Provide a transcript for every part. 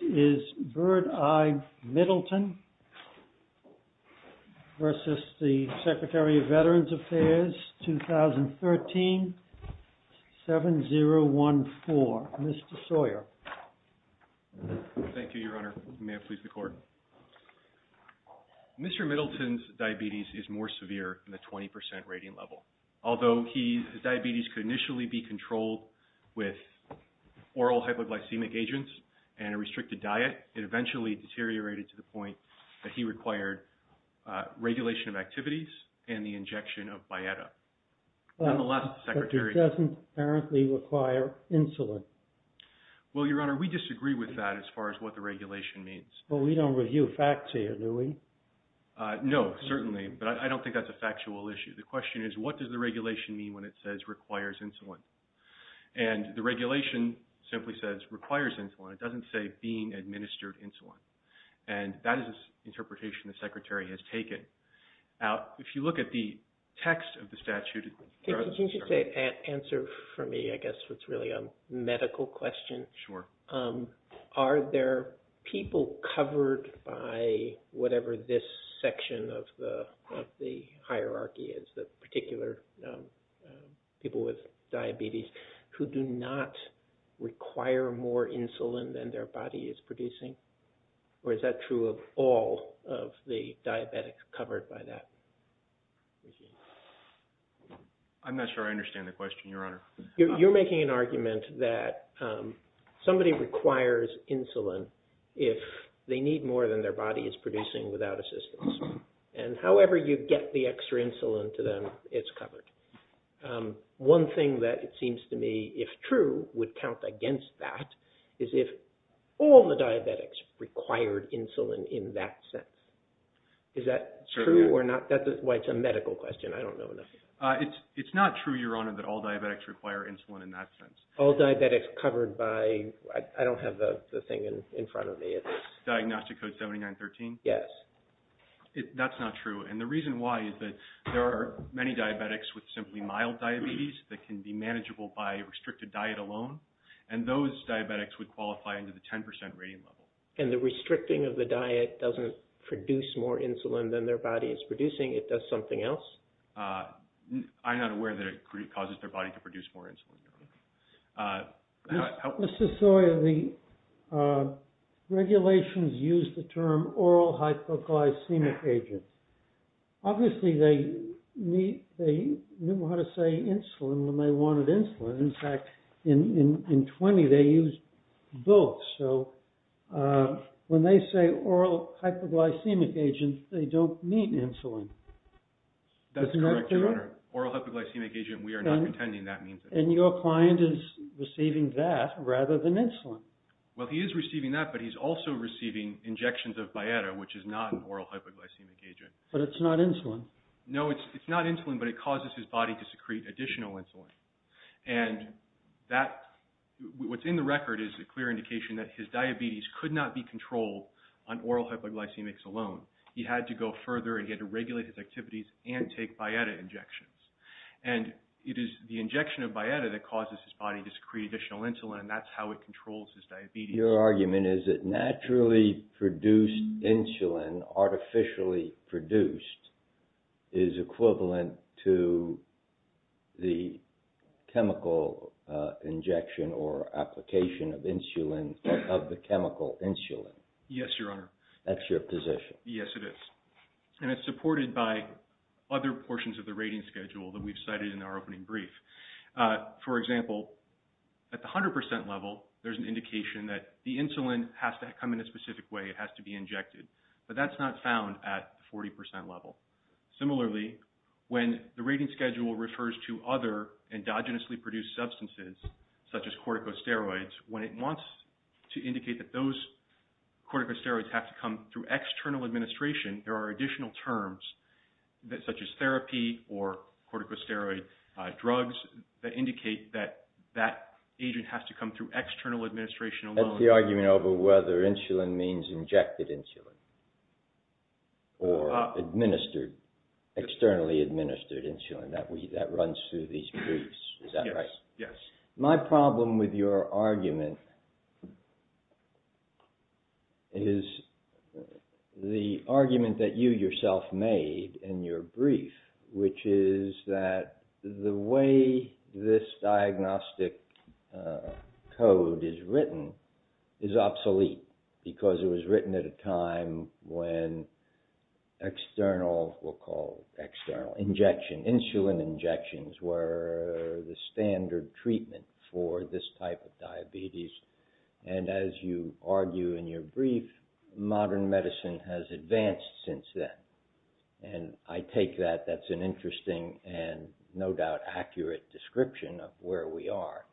is BIRDEYE MIDDLETON versus the Secretary of Veterans Affairs 2013-7014. Mr. Sawyer. Thank you, Your Honor. May it please the Court. Mr. Middleton's diabetes is more severe than the 20% rating level. Although his diabetes could initially be controlled with oral hypoglycemic agents and a restricted diet, it eventually deteriorated to the point that he required regulation of activities and the injection of Bietta. Nonetheless, the Secretary... But this doesn't apparently require insulin. Well, Your Honor, we disagree with that as far as what the regulation means. Well, we don't review facts here, do we? No, certainly, but I don't think that's a factual issue. The question is, what does the regulation mean when it says requires insulin? And the regulation simply says requires insulin. It doesn't say being administered insulin. And that is an interpretation the Secretary has taken. Now, if you look at the text of the statute... Could you just answer for me, I guess, what's really a medical question? Sure. Are there people covered by whatever this section of the hierarchy is, the particular people with diabetes, who do not require more insulin than their body is producing? Or is that true of all of the diabetics covered by that? I'm not sure I understand the question, Your Honor. You're making an argument that somebody requires insulin if they need more than their body is covered. One thing that it seems to me, if true, would count against that is if all the diabetics required insulin in that sense. Is that true or not? That's why it's a medical question. I don't know enough. It's not true, Your Honor, that all diabetics require insulin in that sense. All diabetics covered by... I don't have the thing in front of me. Diagnostic Code 7913? Yes. That's not true. And the reason why is that there are many diabetics with simply mild diabetes that can be manageable by restricted diet alone. And those diabetics would qualify into the 10% rating level. And the restricting of the diet doesn't produce more insulin than their body is producing, it does something else? I'm not aware that it causes their body to produce more insulin. Mr. Sawyer, the regulations use the term oral hypoglycemic agent. Obviously, they knew how to say insulin when they wanted insulin. In fact, in 20, they used both. So, when they say oral hypoglycemic agent, they don't mean insulin. That's correct, Your Honor. Oral hypoglycemic agent, we are not pretending that means it. And your client is receiving that rather than insulin? Well, he is receiving that, but he's also receiving injections of biota, which is not an oral hypoglycemic agent. But it's not insulin? No, it's not insulin, but it causes his body to secrete additional insulin. And what's in the record is a clear indication that his diabetes could not be controlled on oral hypoglycemics alone. He had to go further and he had to regulate his activities and take biota injections. And it is the injection of biota that causes his body to secrete additional insulin, and that's how it controls his diabetes. Your argument is that naturally produced insulin, artificially produced, is equivalent to the chemical injection or application of insulin, of the chemical insulin? Yes, Your Honor. That's your position? Yes, it is. And it's supported by other portions of the rating schedule that we've cited in our opening brief. For example, at the 100% level, there's an indication that the insulin has to come in a specific way. It has to be injected. But that's not found at the 40% level. Similarly, when the rating schedule refers to other endogenously produced substances, such as corticosteroids, when it wants to indicate that those corticosteroids have to come through external administration, there are additional terms, such as therapy or corticosteroid drugs, that indicate that that agent has to come through external administration alone. That's the argument over whether insulin means injected insulin or administered, externally administered insulin. That runs through these briefs, is that right? Yes. My problem with your argument is the argument that you yourself made in your brief, which is that the way this diagnostic code is written is obsolete, because it was written at a time when external, we'll call it external, insulin injections were the standard treatment for this type of diabetes. And as you argue in your brief, modern medicine has advanced since then. And I take that that's an interesting and no doubt accurate description of where we are.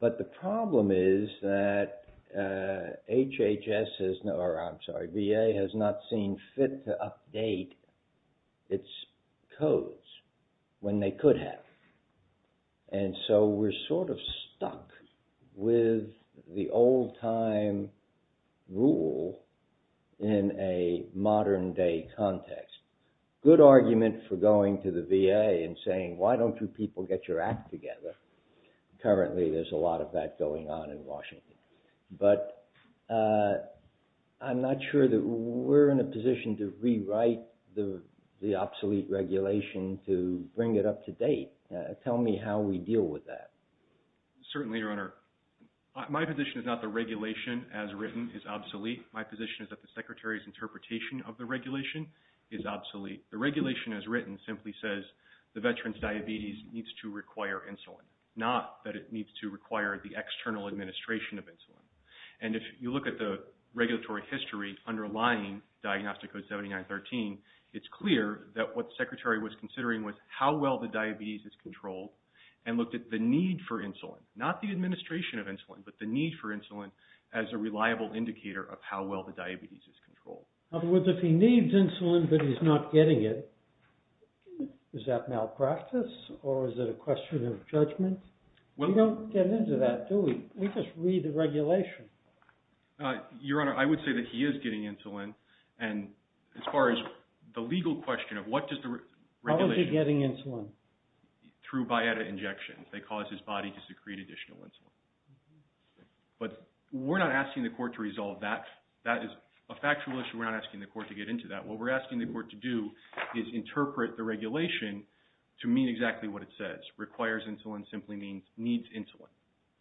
But the problem is that V.A. has not seen fit to update its codes when they could have. And so we're sort of stuck with the old time rule in a modern day context. Good argument for going to the V.A. and saying, why don't you people get your act together? Currently, there's a lot of that going on in Washington. But I'm not sure that we're in a position to rewrite the obsolete regulation to bring it up to date. Tell me how we deal with that. Certainly, Your Honor. My position is not the regulation as written is obsolete. My position is that the Secretary's interpretation of the regulation is obsolete. The regulation as written simply says the veteran's diabetes needs to require insulin, not that it needs to require the external administration of insulin. And if you look at the regulatory history underlying Diagnostic Code 7913, it's clear that what the Secretary was considering was how well the diabetes is controlled and looked at the need for insulin, not the administration of insulin, but the need for insulin as a reliable indicator of how well the diabetes is controlled. In other words, if he needs insulin, but he's not getting it, is that malpractice? Or is it a question of judgment? We don't get into that, do we? We just read the regulation. Your Honor, I would say that he is getting insulin. And as far as the legal question of what does the regulation... How is he getting insulin? Through biota injections. They cause his body to secrete additional insulin. But we're not asking the court to resolve that. That is a factual issue. We're not asking the court to get into that. What we're asking the court to do is interpret the regulation to mean exactly what it says. Requires insulin simply means needs insulin.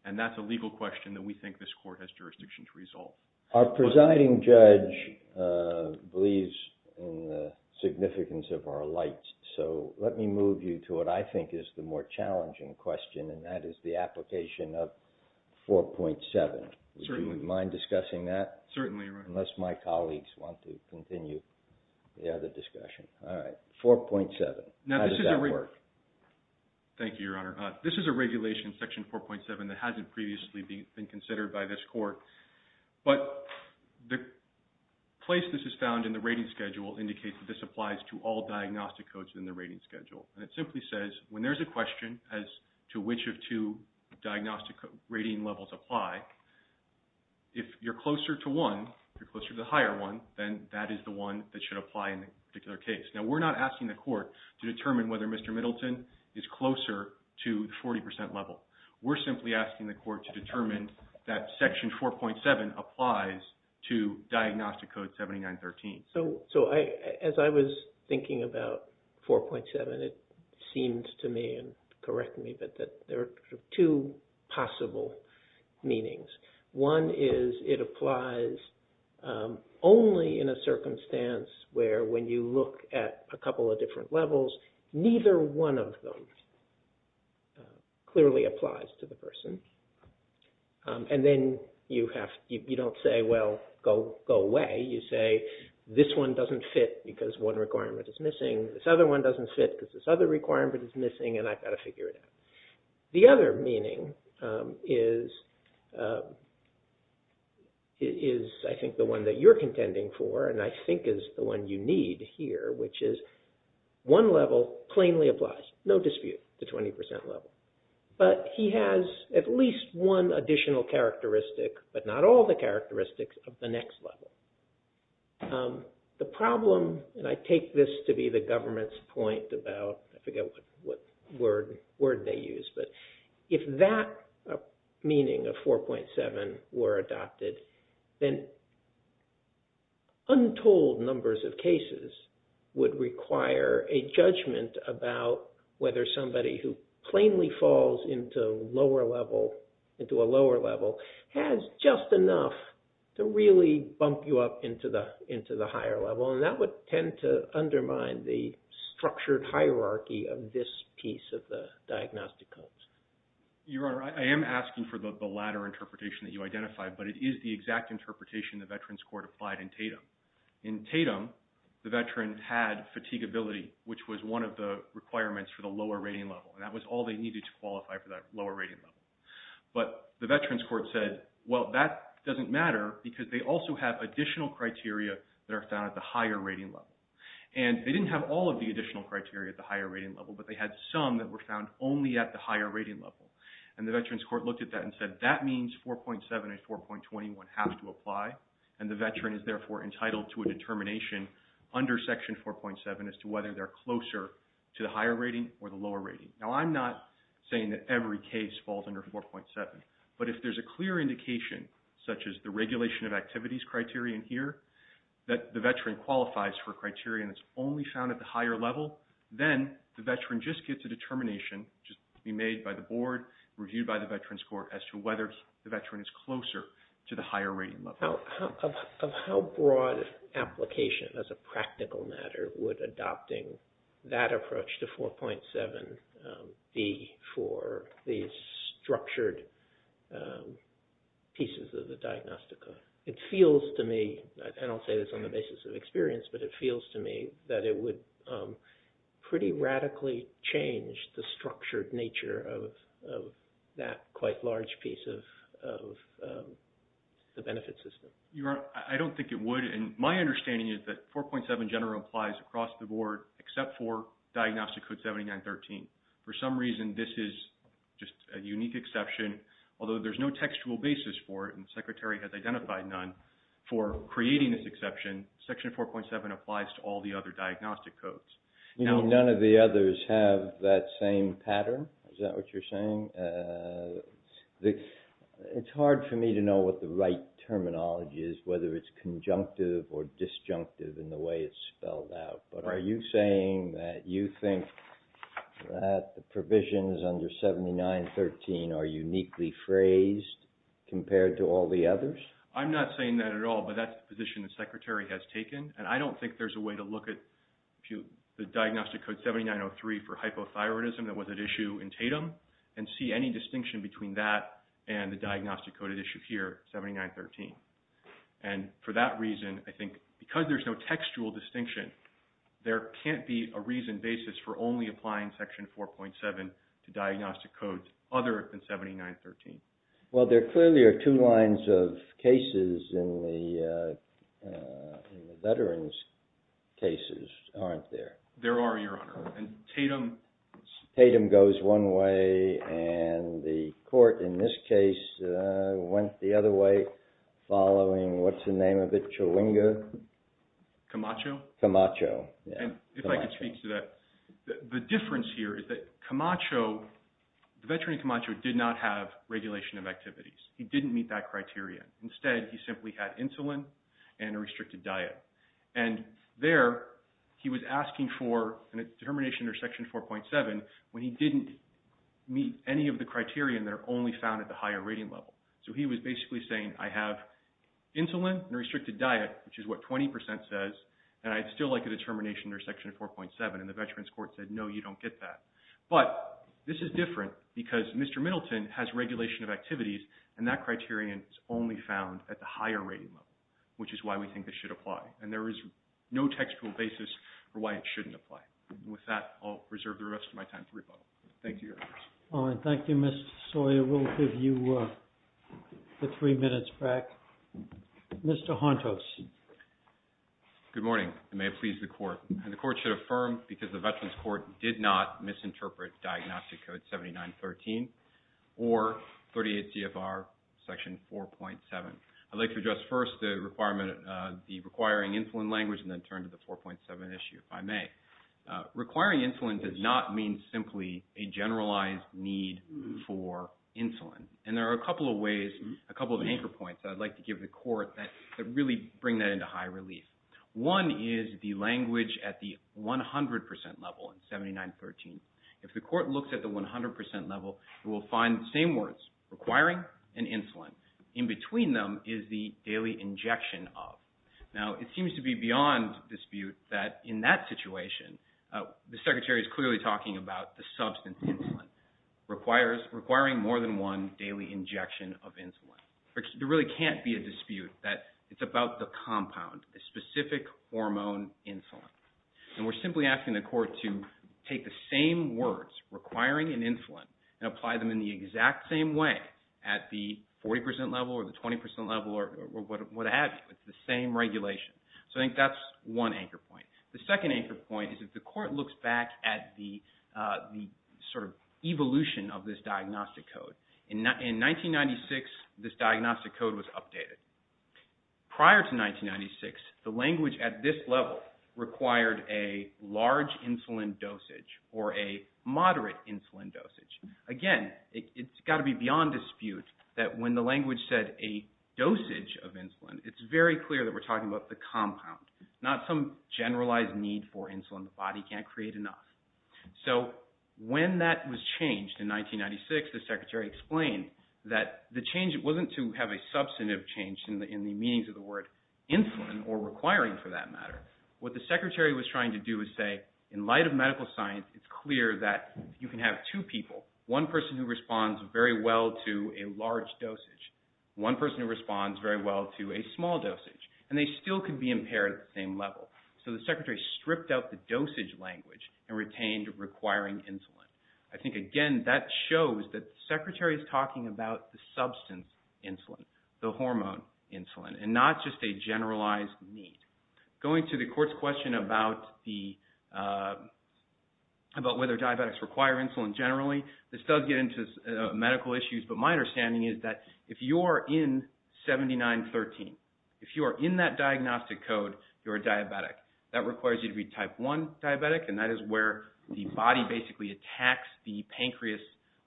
And that's a legal question that we think this court has jurisdiction to resolve. Our presiding judge believes in the significance of our light. So let me move you to what I think is the more challenging question, and that is the 4.7. How does that work? Thank you, Your Honor. This is a regulation in Section 4.7 that hasn't previously been considered by this court. But the place this is found in the rating schedule indicates that this applies to all diagnostic codes in the rating schedule. And it simply says, when there's a question as to which of two diagnostic rating levels apply, if you're closer to one, you're closer to the higher one, then that is the one that should apply in a particular case. Now, we're not asking the court to determine whether Mr. Middleton is closer to the 40% level. We're simply asking the court to determine that Section 4.7 applies to Diagnostic Code 7913. So as I was thinking about 4.7, it seemed to me, and correct me, that there are two possible meanings. One is it applies only in a circumstance where, when you look at a couple of different levels, neither one of them clearly applies to the person. And then you don't say, well, go away. You say, this one doesn't fit because one requirement is missing. This other one doesn't fit because this other requirement is missing, and I've got to figure it out. The other meaning is I think the one that you're contending for, and I think is the one you need here, which is one level plainly applies, no dispute, to 20% level. But he has at least one additional characteristic, but not all the characteristics, of the next level. The problem, and I take this to be the government's point about, I forget what word they use, but if that meaning of 4.7 were adopted, then untold numbers of cases would require a judgment about whether somebody who plainly falls into a lower level has just enough to really bump you up into the higher level. And that would tend to undermine the structured hierarchy of this piece of the diagnostic codes. Your Honor, I am asking for the latter interpretation that you identified, but it is the exact interpretation the Veterans Court applied in Tatum. In Tatum, the veteran had fatigability, which was one of the requirements for the lower rating level, and that was all they needed to qualify for that lower rating level. But the Veterans Court said, well, that doesn't matter because they also have additional criteria that are found at the higher rating level. And they didn't have all of the additional criteria at the higher rating level, but they had some that were found only at the higher rating level. And the Veterans Court looked at that and said, that means 4.7 and 4.21 have to apply, and the veteran is therefore entitled to a determination under Section 4.7 as to whether they're closer to the higher rating or the lower rating. Now, I'm not saying that every case falls under 4.7, but if there's a clear indication, such as the regulation of activities criterion here, that the veteran qualifies for a criterion that's only found at the higher level, then the veteran just gets a determination to be made by the board, reviewed by the Veterans Court as to whether the veteran is closer to the higher rating level. Of how broad application, as a practical matter, would adopting that approach to 4.7 be for these structured pieces of the diagnostica? It feels to me, and I'll say this on the basis of experience, but it feels to me that it would pretty radically change the structured nature of that quite large piece of the benefit system. Your Honor, I don't think it would, and my understanding is that 4.7 general applies across the board, except for Diagnostic Code 7913. For some reason, this is just a unique exception, although there's no textual basis for it, and the Secretary has identified none, for creating this exception, Section 4.7 applies to all the other diagnostic codes. You mean none of the others have that same pattern? Is that what you're saying? It's hard for me to know what the right terminology is, whether it's conjunctive or disjunctive in the way it's spelled out, but are you saying that you think that the provisions under 7913 are uniquely phrased compared to all the others? I'm not saying that at all, but that's the position the Secretary has taken, and I don't think there's a way to look at the Diagnostic Code 7903 for hypothyroidism, that was at issue in Tatum, and see any distinction between that and the Diagnostic Code at issue here, 7913. And for that reason, I think because there's no textual distinction, there can't be a reasoned basis for only applying Section 4.7 to diagnostic codes other than 7913. Well, there clearly are two lines of cases in the veteran's cases, aren't there? There are, Your Honor, and Tatum... Tatum goes one way, and the court in this case went the other way, following, what's the name of it, Chawinga? Camacho? Camacho, yeah. And if I could speak to that, the difference here is that Camacho, the veteran in Camacho did not have regulation of activities. He didn't meet that criterion. Instead, he simply had insulin and a restricted diet. And there, he was asking for a determination under Section 4.7 when he didn't meet any of the criterion that are only found at the higher rating level. So he was basically saying, I have insulin and a restricted diet, which is what 20% says, and I'd still like a determination under Section 4.7. And the veteran's court said, no, you don't get that. But this is different because Mr. Middleton has regulation of activities, and that criterion is only found at the higher rating level, which is why we think this should apply. And there is no textual basis for why it shouldn't apply. With that, I'll reserve the rest of my time to rebuttal. Thank you, Your Honor. All right. Thank you, Mr. Sawyer. We'll give you the three minutes back. Mr. Hontos. Good morning, and may it please the court. And the court should affirm, because the veteran's court did not misinterpret Diagnostic Code 7913 or 38 CFR Section 4.7. I'd like to address first the requirement of the requiring insulin language and then turn to the 4.7 issue if I may. Requiring insulin does not mean simply a generalized need for insulin. And there are a couple of ways, a couple of anchor points that I'd like to give the court that really bring that into high relief. One is the language at the 100% level in 7913. If the court looks at the 100% level, it will find the same words, requiring and insulin. In between them is the daily injection of. Now, it seems to be beyond dispute that in that situation, the Secretary is clearly talking about the substance insulin requiring more than one daily injection of insulin. There really can't be a dispute that it's about the compound, the specific hormone insulin. And we're simply asking the court to take the same words, requiring and insulin, and apply them in the exact same way at the 40% level or the 20% level or what have you. It's the same regulation. So I think that's one anchor point. The second anchor point is if the court looks back at the sort of evolution of this diagnostic code. In 1996, this diagnostic code was updated. Prior to 1996, the language at this level required a large insulin dosage or a moderate insulin dosage. Again, it's got to be beyond dispute that when the language said a dosage of insulin, it's very clear that we're talking about the compound, not some generalized need for insulin. The body can't create enough. So when that was changed in 1996, the Secretary explained that the change wasn't to have a substantive change in the meanings of the word insulin or requiring for that matter. What the Secretary was trying to do is say, in light of medical science, it's clear that you can have two people, one person who responds very well to a large dosage, one person who responds very well to a small dosage, and they still could be impaired at the same level. So the Secretary stripped out the dosage language and retained requiring insulin. I think, again, that shows that the Secretary is talking about the substance insulin, the hormone insulin, and not just a generalized need. Going to the court's question about whether diabetics require insulin generally, this does get into medical issues, but my understanding is that if you're in 7913, if you are in that diagnostic code, you're a diabetic. That requires you to be type 1 diabetic, and that is where the body basically attacks the pancreas,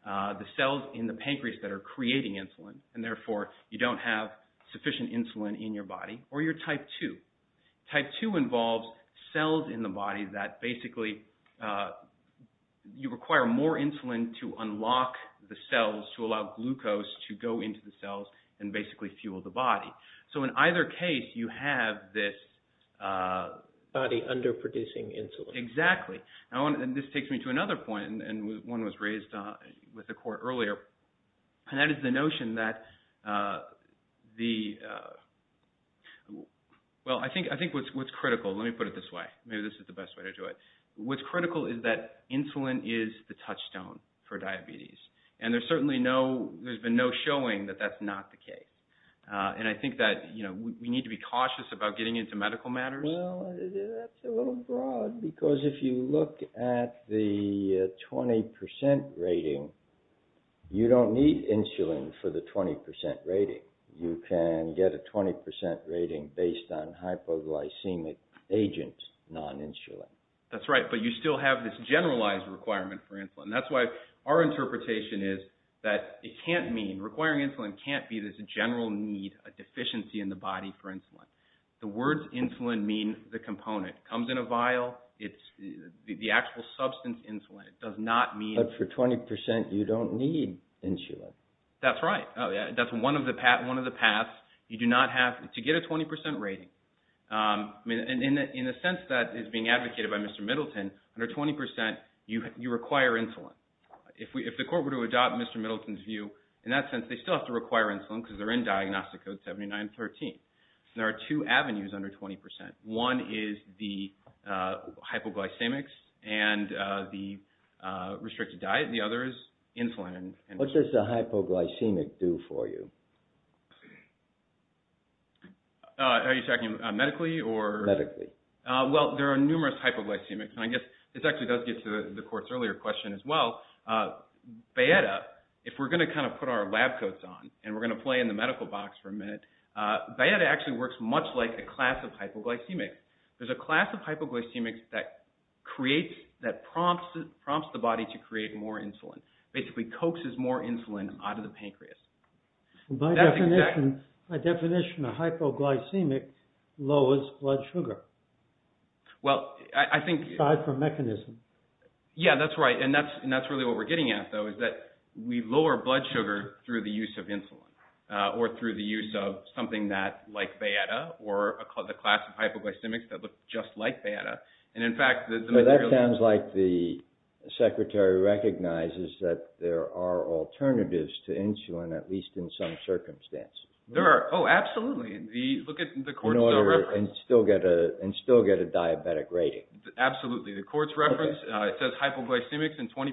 the cells in the pancreas that are creating insulin, and therefore you don't have sufficient insulin in your body. Or you're type 2. Type 2 involves cells in the body that basically require more insulin to unlock the cells, to allow glucose to go into the cells and basically fuel the body. So in either case, you have this body underproducing insulin. Exactly. And this takes me to another point, and one was raised with the court earlier, and that is the notion that the... Well, I think what's critical, let me put it this way, maybe this is the best way to do it. What's critical is that insulin is the touchstone for diabetes, and there's certainly no... There's been no showing that that's not the case. And I think that we need to be cautious about getting into medical matters. Well, that's a little broad, because if you look at the 20% rating, you don't need insulin for the 20% rating. You can get a 20% rating based on hypoglycemic agent non-insulin. That's right, but you still have this generalized requirement for insulin. That's why our interpretation is that it can't mean... Requiring insulin can't be this general need, a deficiency in the body for insulin. The words insulin mean the component. Comes in a vial, it's the actual substance insulin. It does not mean... But for 20%, you don't need insulin. That's right. That's one of the paths. You do not have... To get a 20% rating. In a sense that is being advocated by Mr. Middleton, under 20%, you require insulin. If the court were to adopt Mr. Middleton's view, in that sense, they still have to require insulin because they're in Diagnostic Code 7913. There are two avenues under 20%. One is the hypoglycemics and the restricted diet. The other is insulin. What does the hypoglycemic do for you? Are you talking medically or... Medically. Well, there are numerous hypoglycemics. I guess this actually does get to the court's earlier question as well. Bayetta, if we're going to put our lab coats on and we're going to play in the medical box for a minute, Bayetta actually works much like a class of hypoglycemics. There's a that prompts the body to create more insulin. Basically coaxes more insulin out of the pancreas. That's exact. By definition, a hypoglycemic lowers blood sugar. Well, I think... Aside from mechanism. Yeah, that's right. That's really what we're getting at, though, is that we lower blood sugar through the use of insulin or through the use of something like Bayetta or a class of hypoglycemics that look just like Bayetta. In fact, the... That sounds like the secretary recognizes that there are alternatives to insulin, at least in some circumstances. There are. Oh, absolutely. Look at the court's reference. And still get a diabetic rating. Absolutely. The court's reference, it says hypoglycemics and 20%.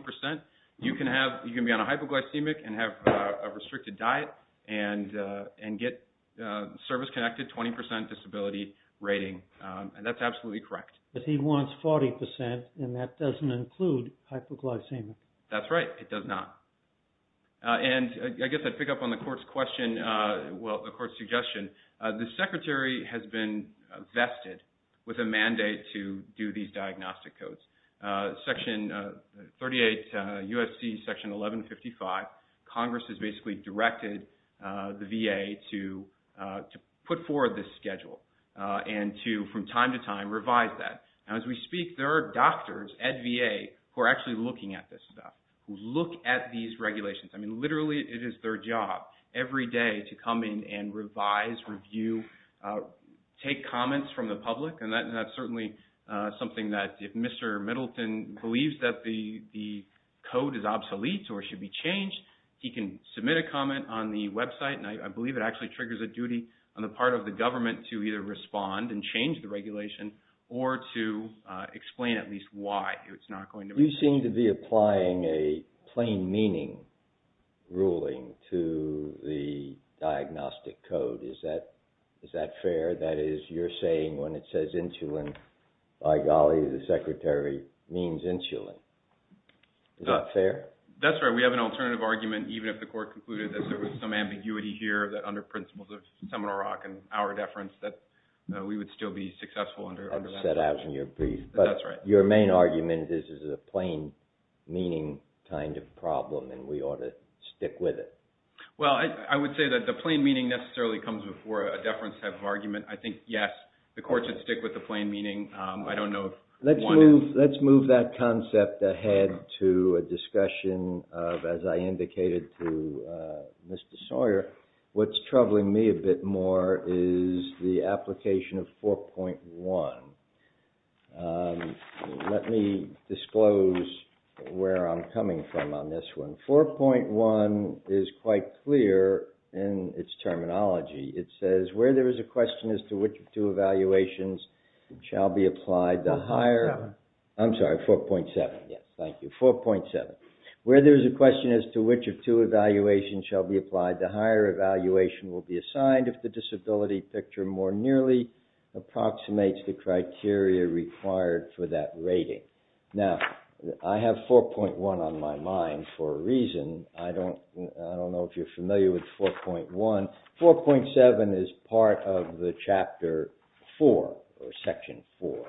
You can be on a hypoglycemic and have a restricted diet and get service-connected 20% disability rating. And that's absolutely correct. But he wants 40% and that doesn't include hypoglycemic. That's right. It does not. And I guess I'd pick up on the court's question... Well, the court's suggestion. The secretary has been vested with a mandate to do these diagnostic codes. Section 38, USC, Section 1155, Congress has basically directed the VA to put forward this schedule and to, from time to time, revise that. And as we speak, there are doctors at VA who are actually looking at this stuff, who look at these regulations. I mean, literally, it is their job every day to come in and revise, review, take comments from the public. And that's certainly something that if Mr. Middleton believes that the code is obsolete or should be changed, he can submit a comment on the website. And I believe it actually triggers a duty on the part of the government to either respond and change the regulation or to explain at least why it's not going to be... You seem to be applying a plain meaning ruling to the diagnostic code. Is that fair? That is, you're saying when it says insulin, by golly, the secretary means insulin. Is that fair? That's right. We have an alternative argument, even if the court concluded that there was some ambiguity here, that under principles of Seminole Rock and our deference, that we would still be successful under that. That's set out in your brief. That's right. Your main argument is this is a plain meaning kind of problem and we ought to stick with it. Well, I would say that the plain meaning necessarily comes before a deference type argument. I think, yes, the court should stick with the plain meaning. I don't know if one is... Let's move that concept ahead to a discussion of, as I indicated to Mr. Sawyer, what's troubling me a bit more is the application of 4.1. Let me disclose where I'm coming from on this one. 4.1 is quite clear in its terminology. It says, where there is a question as to which of two evaluations shall be applied to higher... 4.7. I'm sorry, 4.7. Yes, thank you. 4.7. Where there is a question as to which of two evaluations shall be applied to higher, evaluation will be assigned if the disability picture more nearly approximates the criteria required for that rating. Now, I have 4.1 on my mind for a reason. I don't know if you're familiar with 4.1. 4.7 is part of the Chapter 4 or Section 4.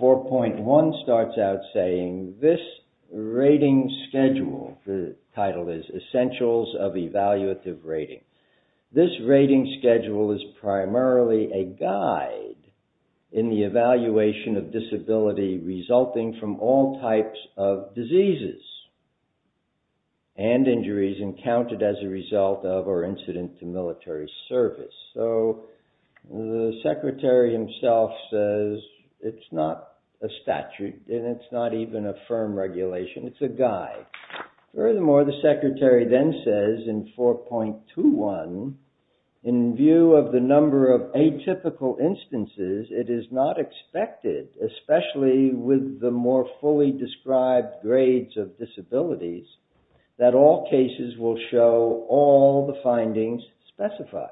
4.1 starts out saying, this rating schedule, the title is Essentials of Evaluative Rating. This rating schedule is primarily a guide in the evaluation of disability resulting from all types of diseases and injuries encountered as a result of or incident to military service. So the secretary himself says, it's not a statute, and it's not even a firm regulation. It's a guide. Furthermore, the secretary then says in 4.21, in view of the number of atypical instances, it is not expected, especially with the more fully described grades of disabilities, that all cases will show all the findings specified.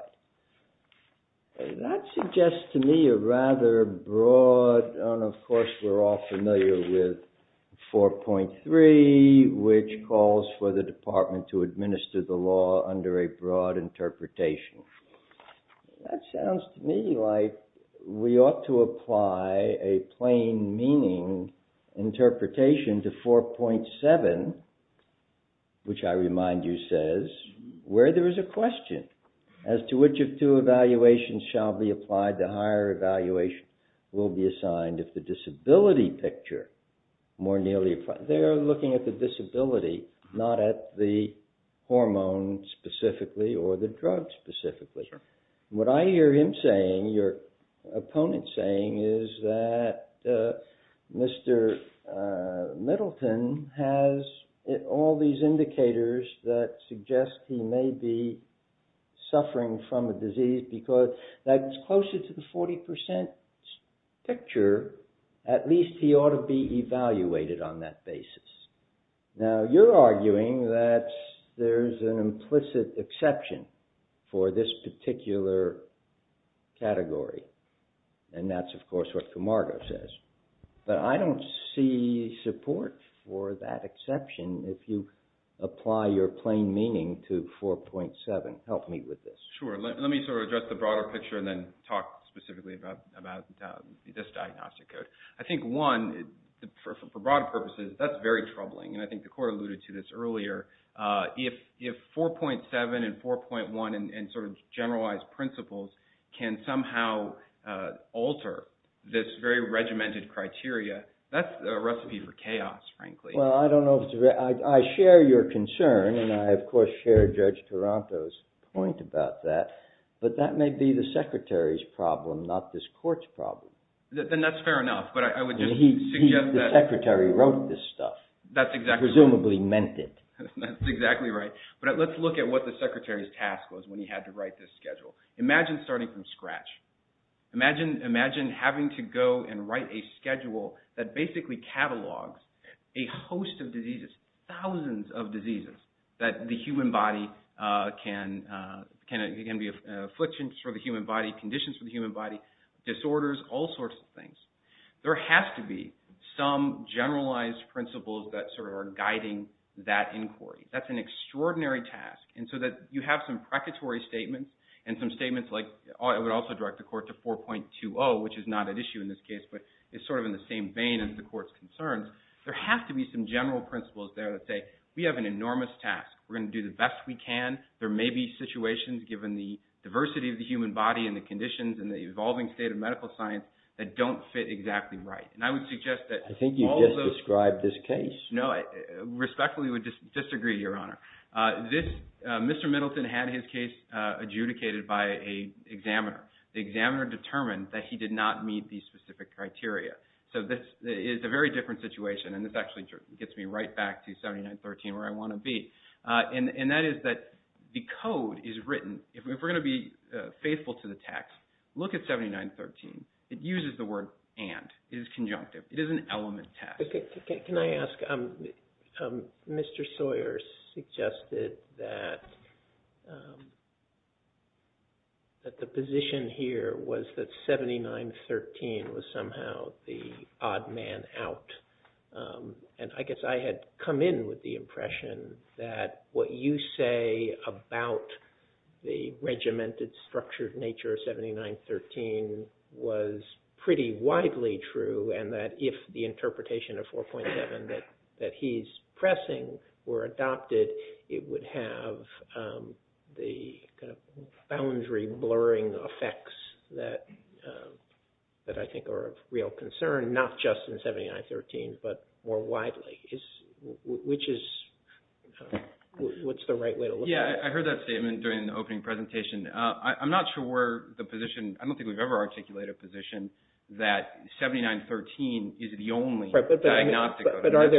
That suggests to me a rather broad, and of course, we're all familiar with 4.3, which calls for the department to administer the law under a broad interpretation. That sounds to me like we ought to apply a plain meaning interpretation to 4.7, which I remind you says, where there is a question, as to which of two evaluations shall be applied, the higher evaluation will be assigned if the disability picture more nearly applies. They are looking at the disability, not at the hormone specifically or the drug specifically. What I hear him saying, your opponent saying, is that Mr. Middleton has all these indicators that suggest he may be suffering from a disease, because that's closer to the 40% picture. At least he ought to be evaluated on that basis. Now, you're arguing that there's an implicit exception for this particular category. And that's, of course, what Camargo says. But I don't see support for that exception if you apply your plain meaning to 4.7. Help me with this. Sure. Let me sort of address the broader picture and then talk specifically about this diagnostic code. I think one, for broader purposes, that's very troubling. And I think the court alluded to this earlier. If 4.7 and 4.1 and sort of generalized principles can somehow alter this very regimented criteria, that's a recipe for chaos, frankly. Well, I don't know. I share your concern. And I, of course, share Judge Taranto's point about that. But that may be the secretary's problem, not this court's problem. Then that's fair enough. But I would just suggest that... The secretary wrote this stuff. That's exactly... Presumably meant it. That's exactly right. But let's look at what the secretary's task was when he had to write this schedule. Imagine starting from scratch. Imagine having to go and write a schedule that basically catalogs a host of diseases, thousands of diseases, that the human body can be afflictions for the human body, conditions for the human body, disorders, all sorts of things. There has to be some generalized principles that sort of are guiding that inquiry. That's an extraordinary task. And so that you have some precatory statements and some statements like... I would also direct the court to 4.20, which is not at issue in this case, but it's sort of in the same vein as the court's concerns. There has to be some general principles there that say, we have an enormous task. We're going to do the best we can. There may be situations, given the diversity of the human body and the conditions and the evolving state of medical science, that don't fit exactly right. And I would suggest that... I think you just described this case. No, I respectfully would disagree, Your Honor. Mr. Middleton had his case adjudicated by an examiner. The examiner determined that he did not meet these specific criteria. So this is a very different situation. And this actually gets me right back to 7913, where I want to be. And that is that the code is written... If we're going to be faithful to the text, look at 7913. It uses the word and. It is conjunctive. It is an element test. Can I ask... Mr. Sawyer suggested that the position here was that 7913 was somehow the you say about the regimented, structured nature of 7913 was pretty widely true, and that if the interpretation of 4.7 that he's pressing were adopted, it would have the kind of boundary blurring effects that I think are of real concern, not just in 7913, but more widely. Which is... What's the right way to look at it? Yeah, I heard that statement during the opening presentation. I'm not sure where the position... I don't think we've ever articulated a position that 7913 is the only diagnostic code. But are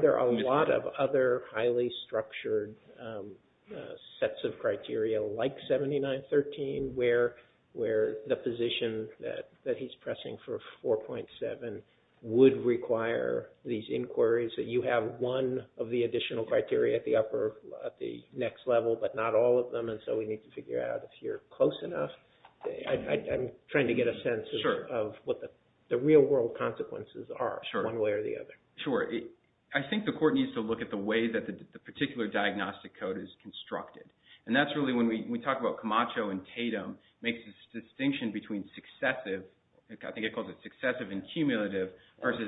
there a lot of other highly structured sets of criteria like 7913, where the position that he's pressing for 4.7 would require these inquiries that you have one of the additional criteria at the next level, but not all of them. And so we need to figure out if you're close enough. I'm trying to get a sense of what the real world consequences are one way or the other. Sure. I think the court needs to look at the way that the particular diagnostic code is constructed. And that's really when we talk about Camacho and Tatum makes a distinction between successive... I think it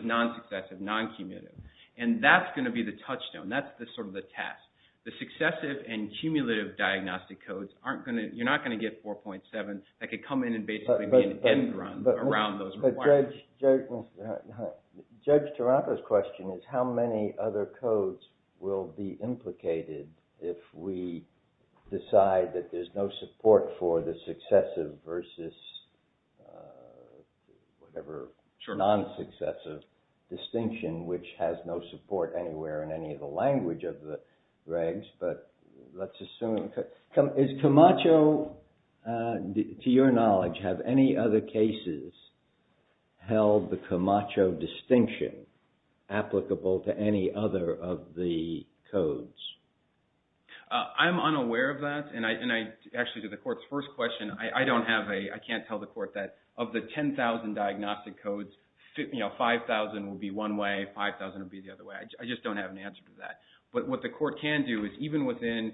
non-successive, non-cumulative. And that's going to be the touchstone. That's the sort of the task. The successive and cumulative diagnostic codes aren't going to... You're not going to get 4.7 that could come in and basically be an end run around those requirements. But Judge Taranto's question is how many other codes will be implicated if we decide that there's no non-successive distinction, which has no support anywhere in any of the language of the regs, but let's assume... Is Camacho, to your knowledge, have any other cases held the Camacho distinction applicable to any other of the codes? I'm unaware of that. And actually to the court's first question, I can't tell the court that of the 10,000 diagnostic codes, 5,000 will be one way, 5,000 will be the other way. I just don't have an answer to that. But what the court can do is even within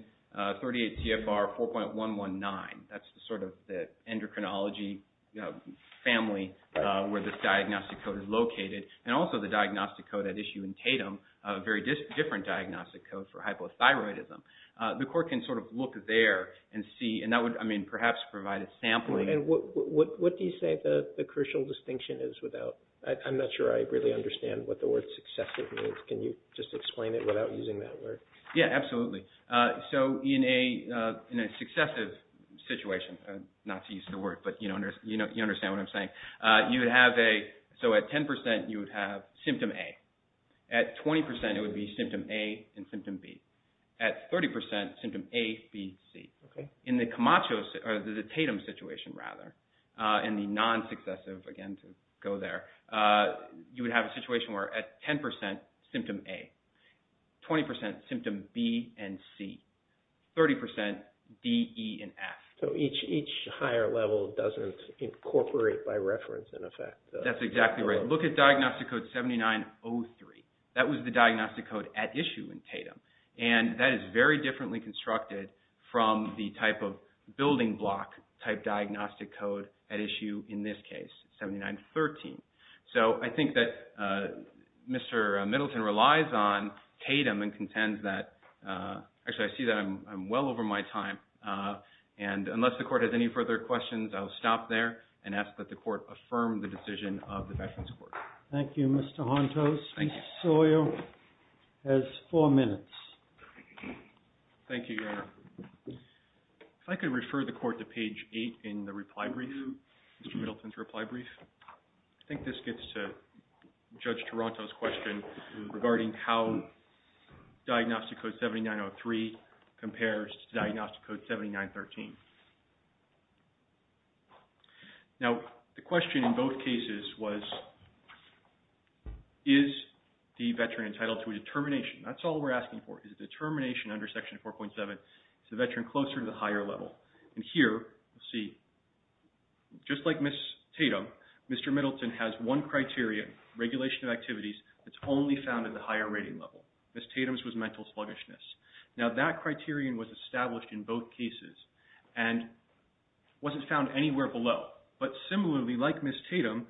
38 TFR 4.119, that's the sort of the endocrinology family where this diagnostic code is located. And also the diagnostic code at issue in Tatum, a very different diagnostic code for hypothyroidism. The court can sort of look there and see, and that would perhaps provide a sampling. And what do you say the crucial distinction is without... I'm not sure I really understand what the word successive means. Can you just explain it without using that word? Yeah, absolutely. So in a successive situation, not to use the word, but you understand what I'm saying. So at 10%, you would have symptom A. At 20%, it would be symptom A and symptom B. At 30%, symptom A, B, C. In the Tatum situation, rather, and the non-successive, again, to go there, you would have a situation where at 10%, symptom A. 20%, symptom B and C. 30%, D, E, and F. So each higher level doesn't incorporate by reference, in effect. That's exactly right. Look at diagnostic code 7903. That was the diagnostic code at issue in 1979. And that is very differently constructed from the type of building block type diagnostic code at issue in this case, 7913. So I think that Mr. Middleton relies on Tatum and contends that... Actually, I see that I'm well over my time. And unless the court has any further questions, I'll stop there and ask that the court affirm the decision of the Veterans Court. Thank you, Mr. Hontos. Ms. Soyo has four minutes. Thank you, Your Honor. If I could refer the court to page 8 in the reply brief, Mr. Middleton's reply brief. I think this gets to Judge Toronto's question regarding how diagnostic code 7903 compares to diagnostic code 7913. Now, the question in both cases was, is the veteran entitled to a determination? That's all we're asking for, is a determination under Section 4.7, is the veteran closer to the higher level? And here, we'll see, just like Ms. Tatum, Mr. Middleton has one criteria, regulation of activities that's only found at the higher rating level. Ms. Tatum's was mental sluggishness. Now, that criterion was established in both cases and wasn't found anywhere below. But similarly, like Ms. Tatum,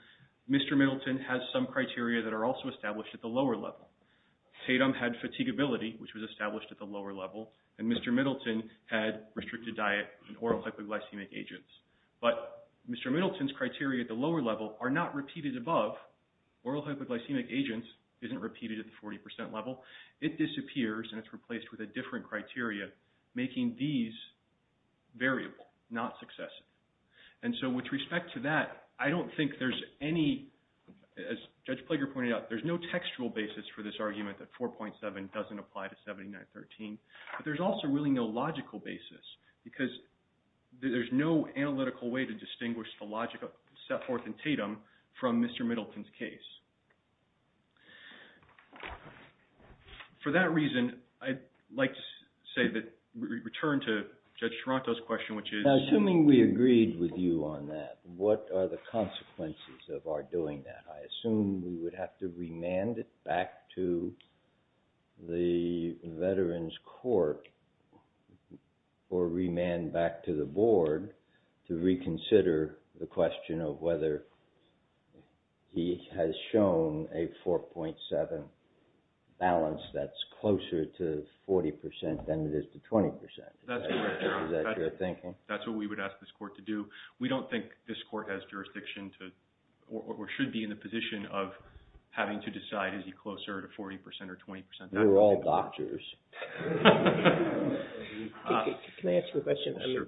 Mr. Middleton has some criteria that are also established at the lower level. Tatum had fatigability, which was established at the lower level, and Mr. Middleton had restricted diet and oral hypoglycemic agents. But Mr. Middleton's criteria at the lower level are not repeated above. Oral hypoglycemic agent isn't repeated at the 40% level. It disappears and it's replaced with a different criteria, making these variable, not successive. And so, with respect to that, I don't think there's any, as Judge Plager pointed out, there's no textual basis for this argument that 4.7 doesn't apply to 7913. But there's also really no logical basis because there's no analytical way to distinguish the logic set forth in Tatum from Mr. Middleton's case. For that reason, I'd like to say that we return to Judge Taranto's question, which is... Now, assuming we agreed with you on that, what are the consequences of our doing that? I assume we would have to remand it back to the Veterans Court or remand back to the board to reconsider the question of whether he has shown a 4.7 balance that's closer to 40% than it is to 20%. That's what we would ask this court to do. We don't think this court has jurisdiction to or should be in the position of having to decide, is he closer to 40% or 20%? We're all doctors. Can I ask you a question? I mean,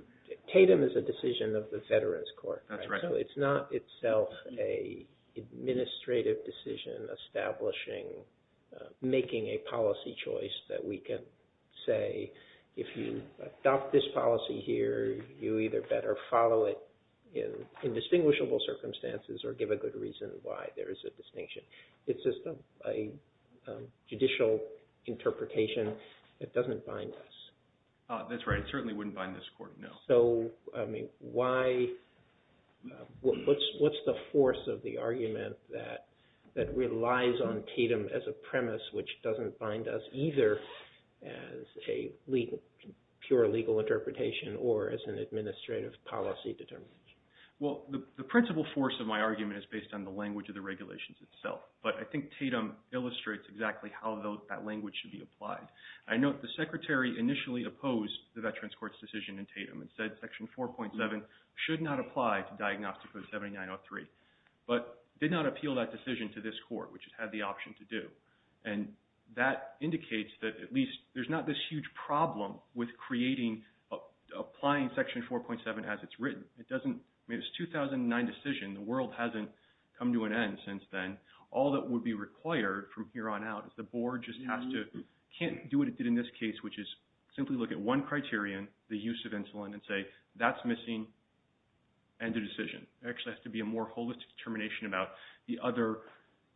Tatum is a decision of the Veterans Court. That's right. So it's not itself an administrative decision establishing, making a policy choice that we can say, if you adopt this policy here, you either better follow it in indistinguishable circumstances or give a good reason why there is a distinction. It's just a judicial interpretation of the that doesn't bind us. That's right. It certainly wouldn't bind this court, no. So, I mean, what's the force of the argument that relies on Tatum as a premise which doesn't bind us either as a pure legal interpretation or as an administrative policy determination? Well, the principal force of my argument is based on the language of the regulations itself. But I think Tatum illustrates exactly how that language should be applied. I note the Secretary initially opposed the Veterans Court's decision in Tatum and said Section 4.7 should not apply to Diagnostic Code 7903, but did not appeal that decision to this court, which it had the option to do. And that indicates that at least there's not this huge problem with creating, applying Section 4.7 as it's written. It doesn't, I mean, it's a 2009 decision. The world hasn't come to an end since then. All that would be required from here on out is the board just has to, can't do what it did in this case, which is simply look at one criterion, the use of insulin, and say, that's missing, end of decision. There actually has to be a more holistic determination about the other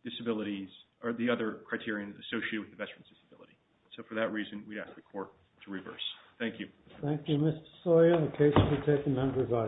disabilities or the other criteria associated with the veteran's disability. So for that reason, we'd ask the court to reverse. Thank you. Thank you, Mr. Sawyer. The case has been taken down.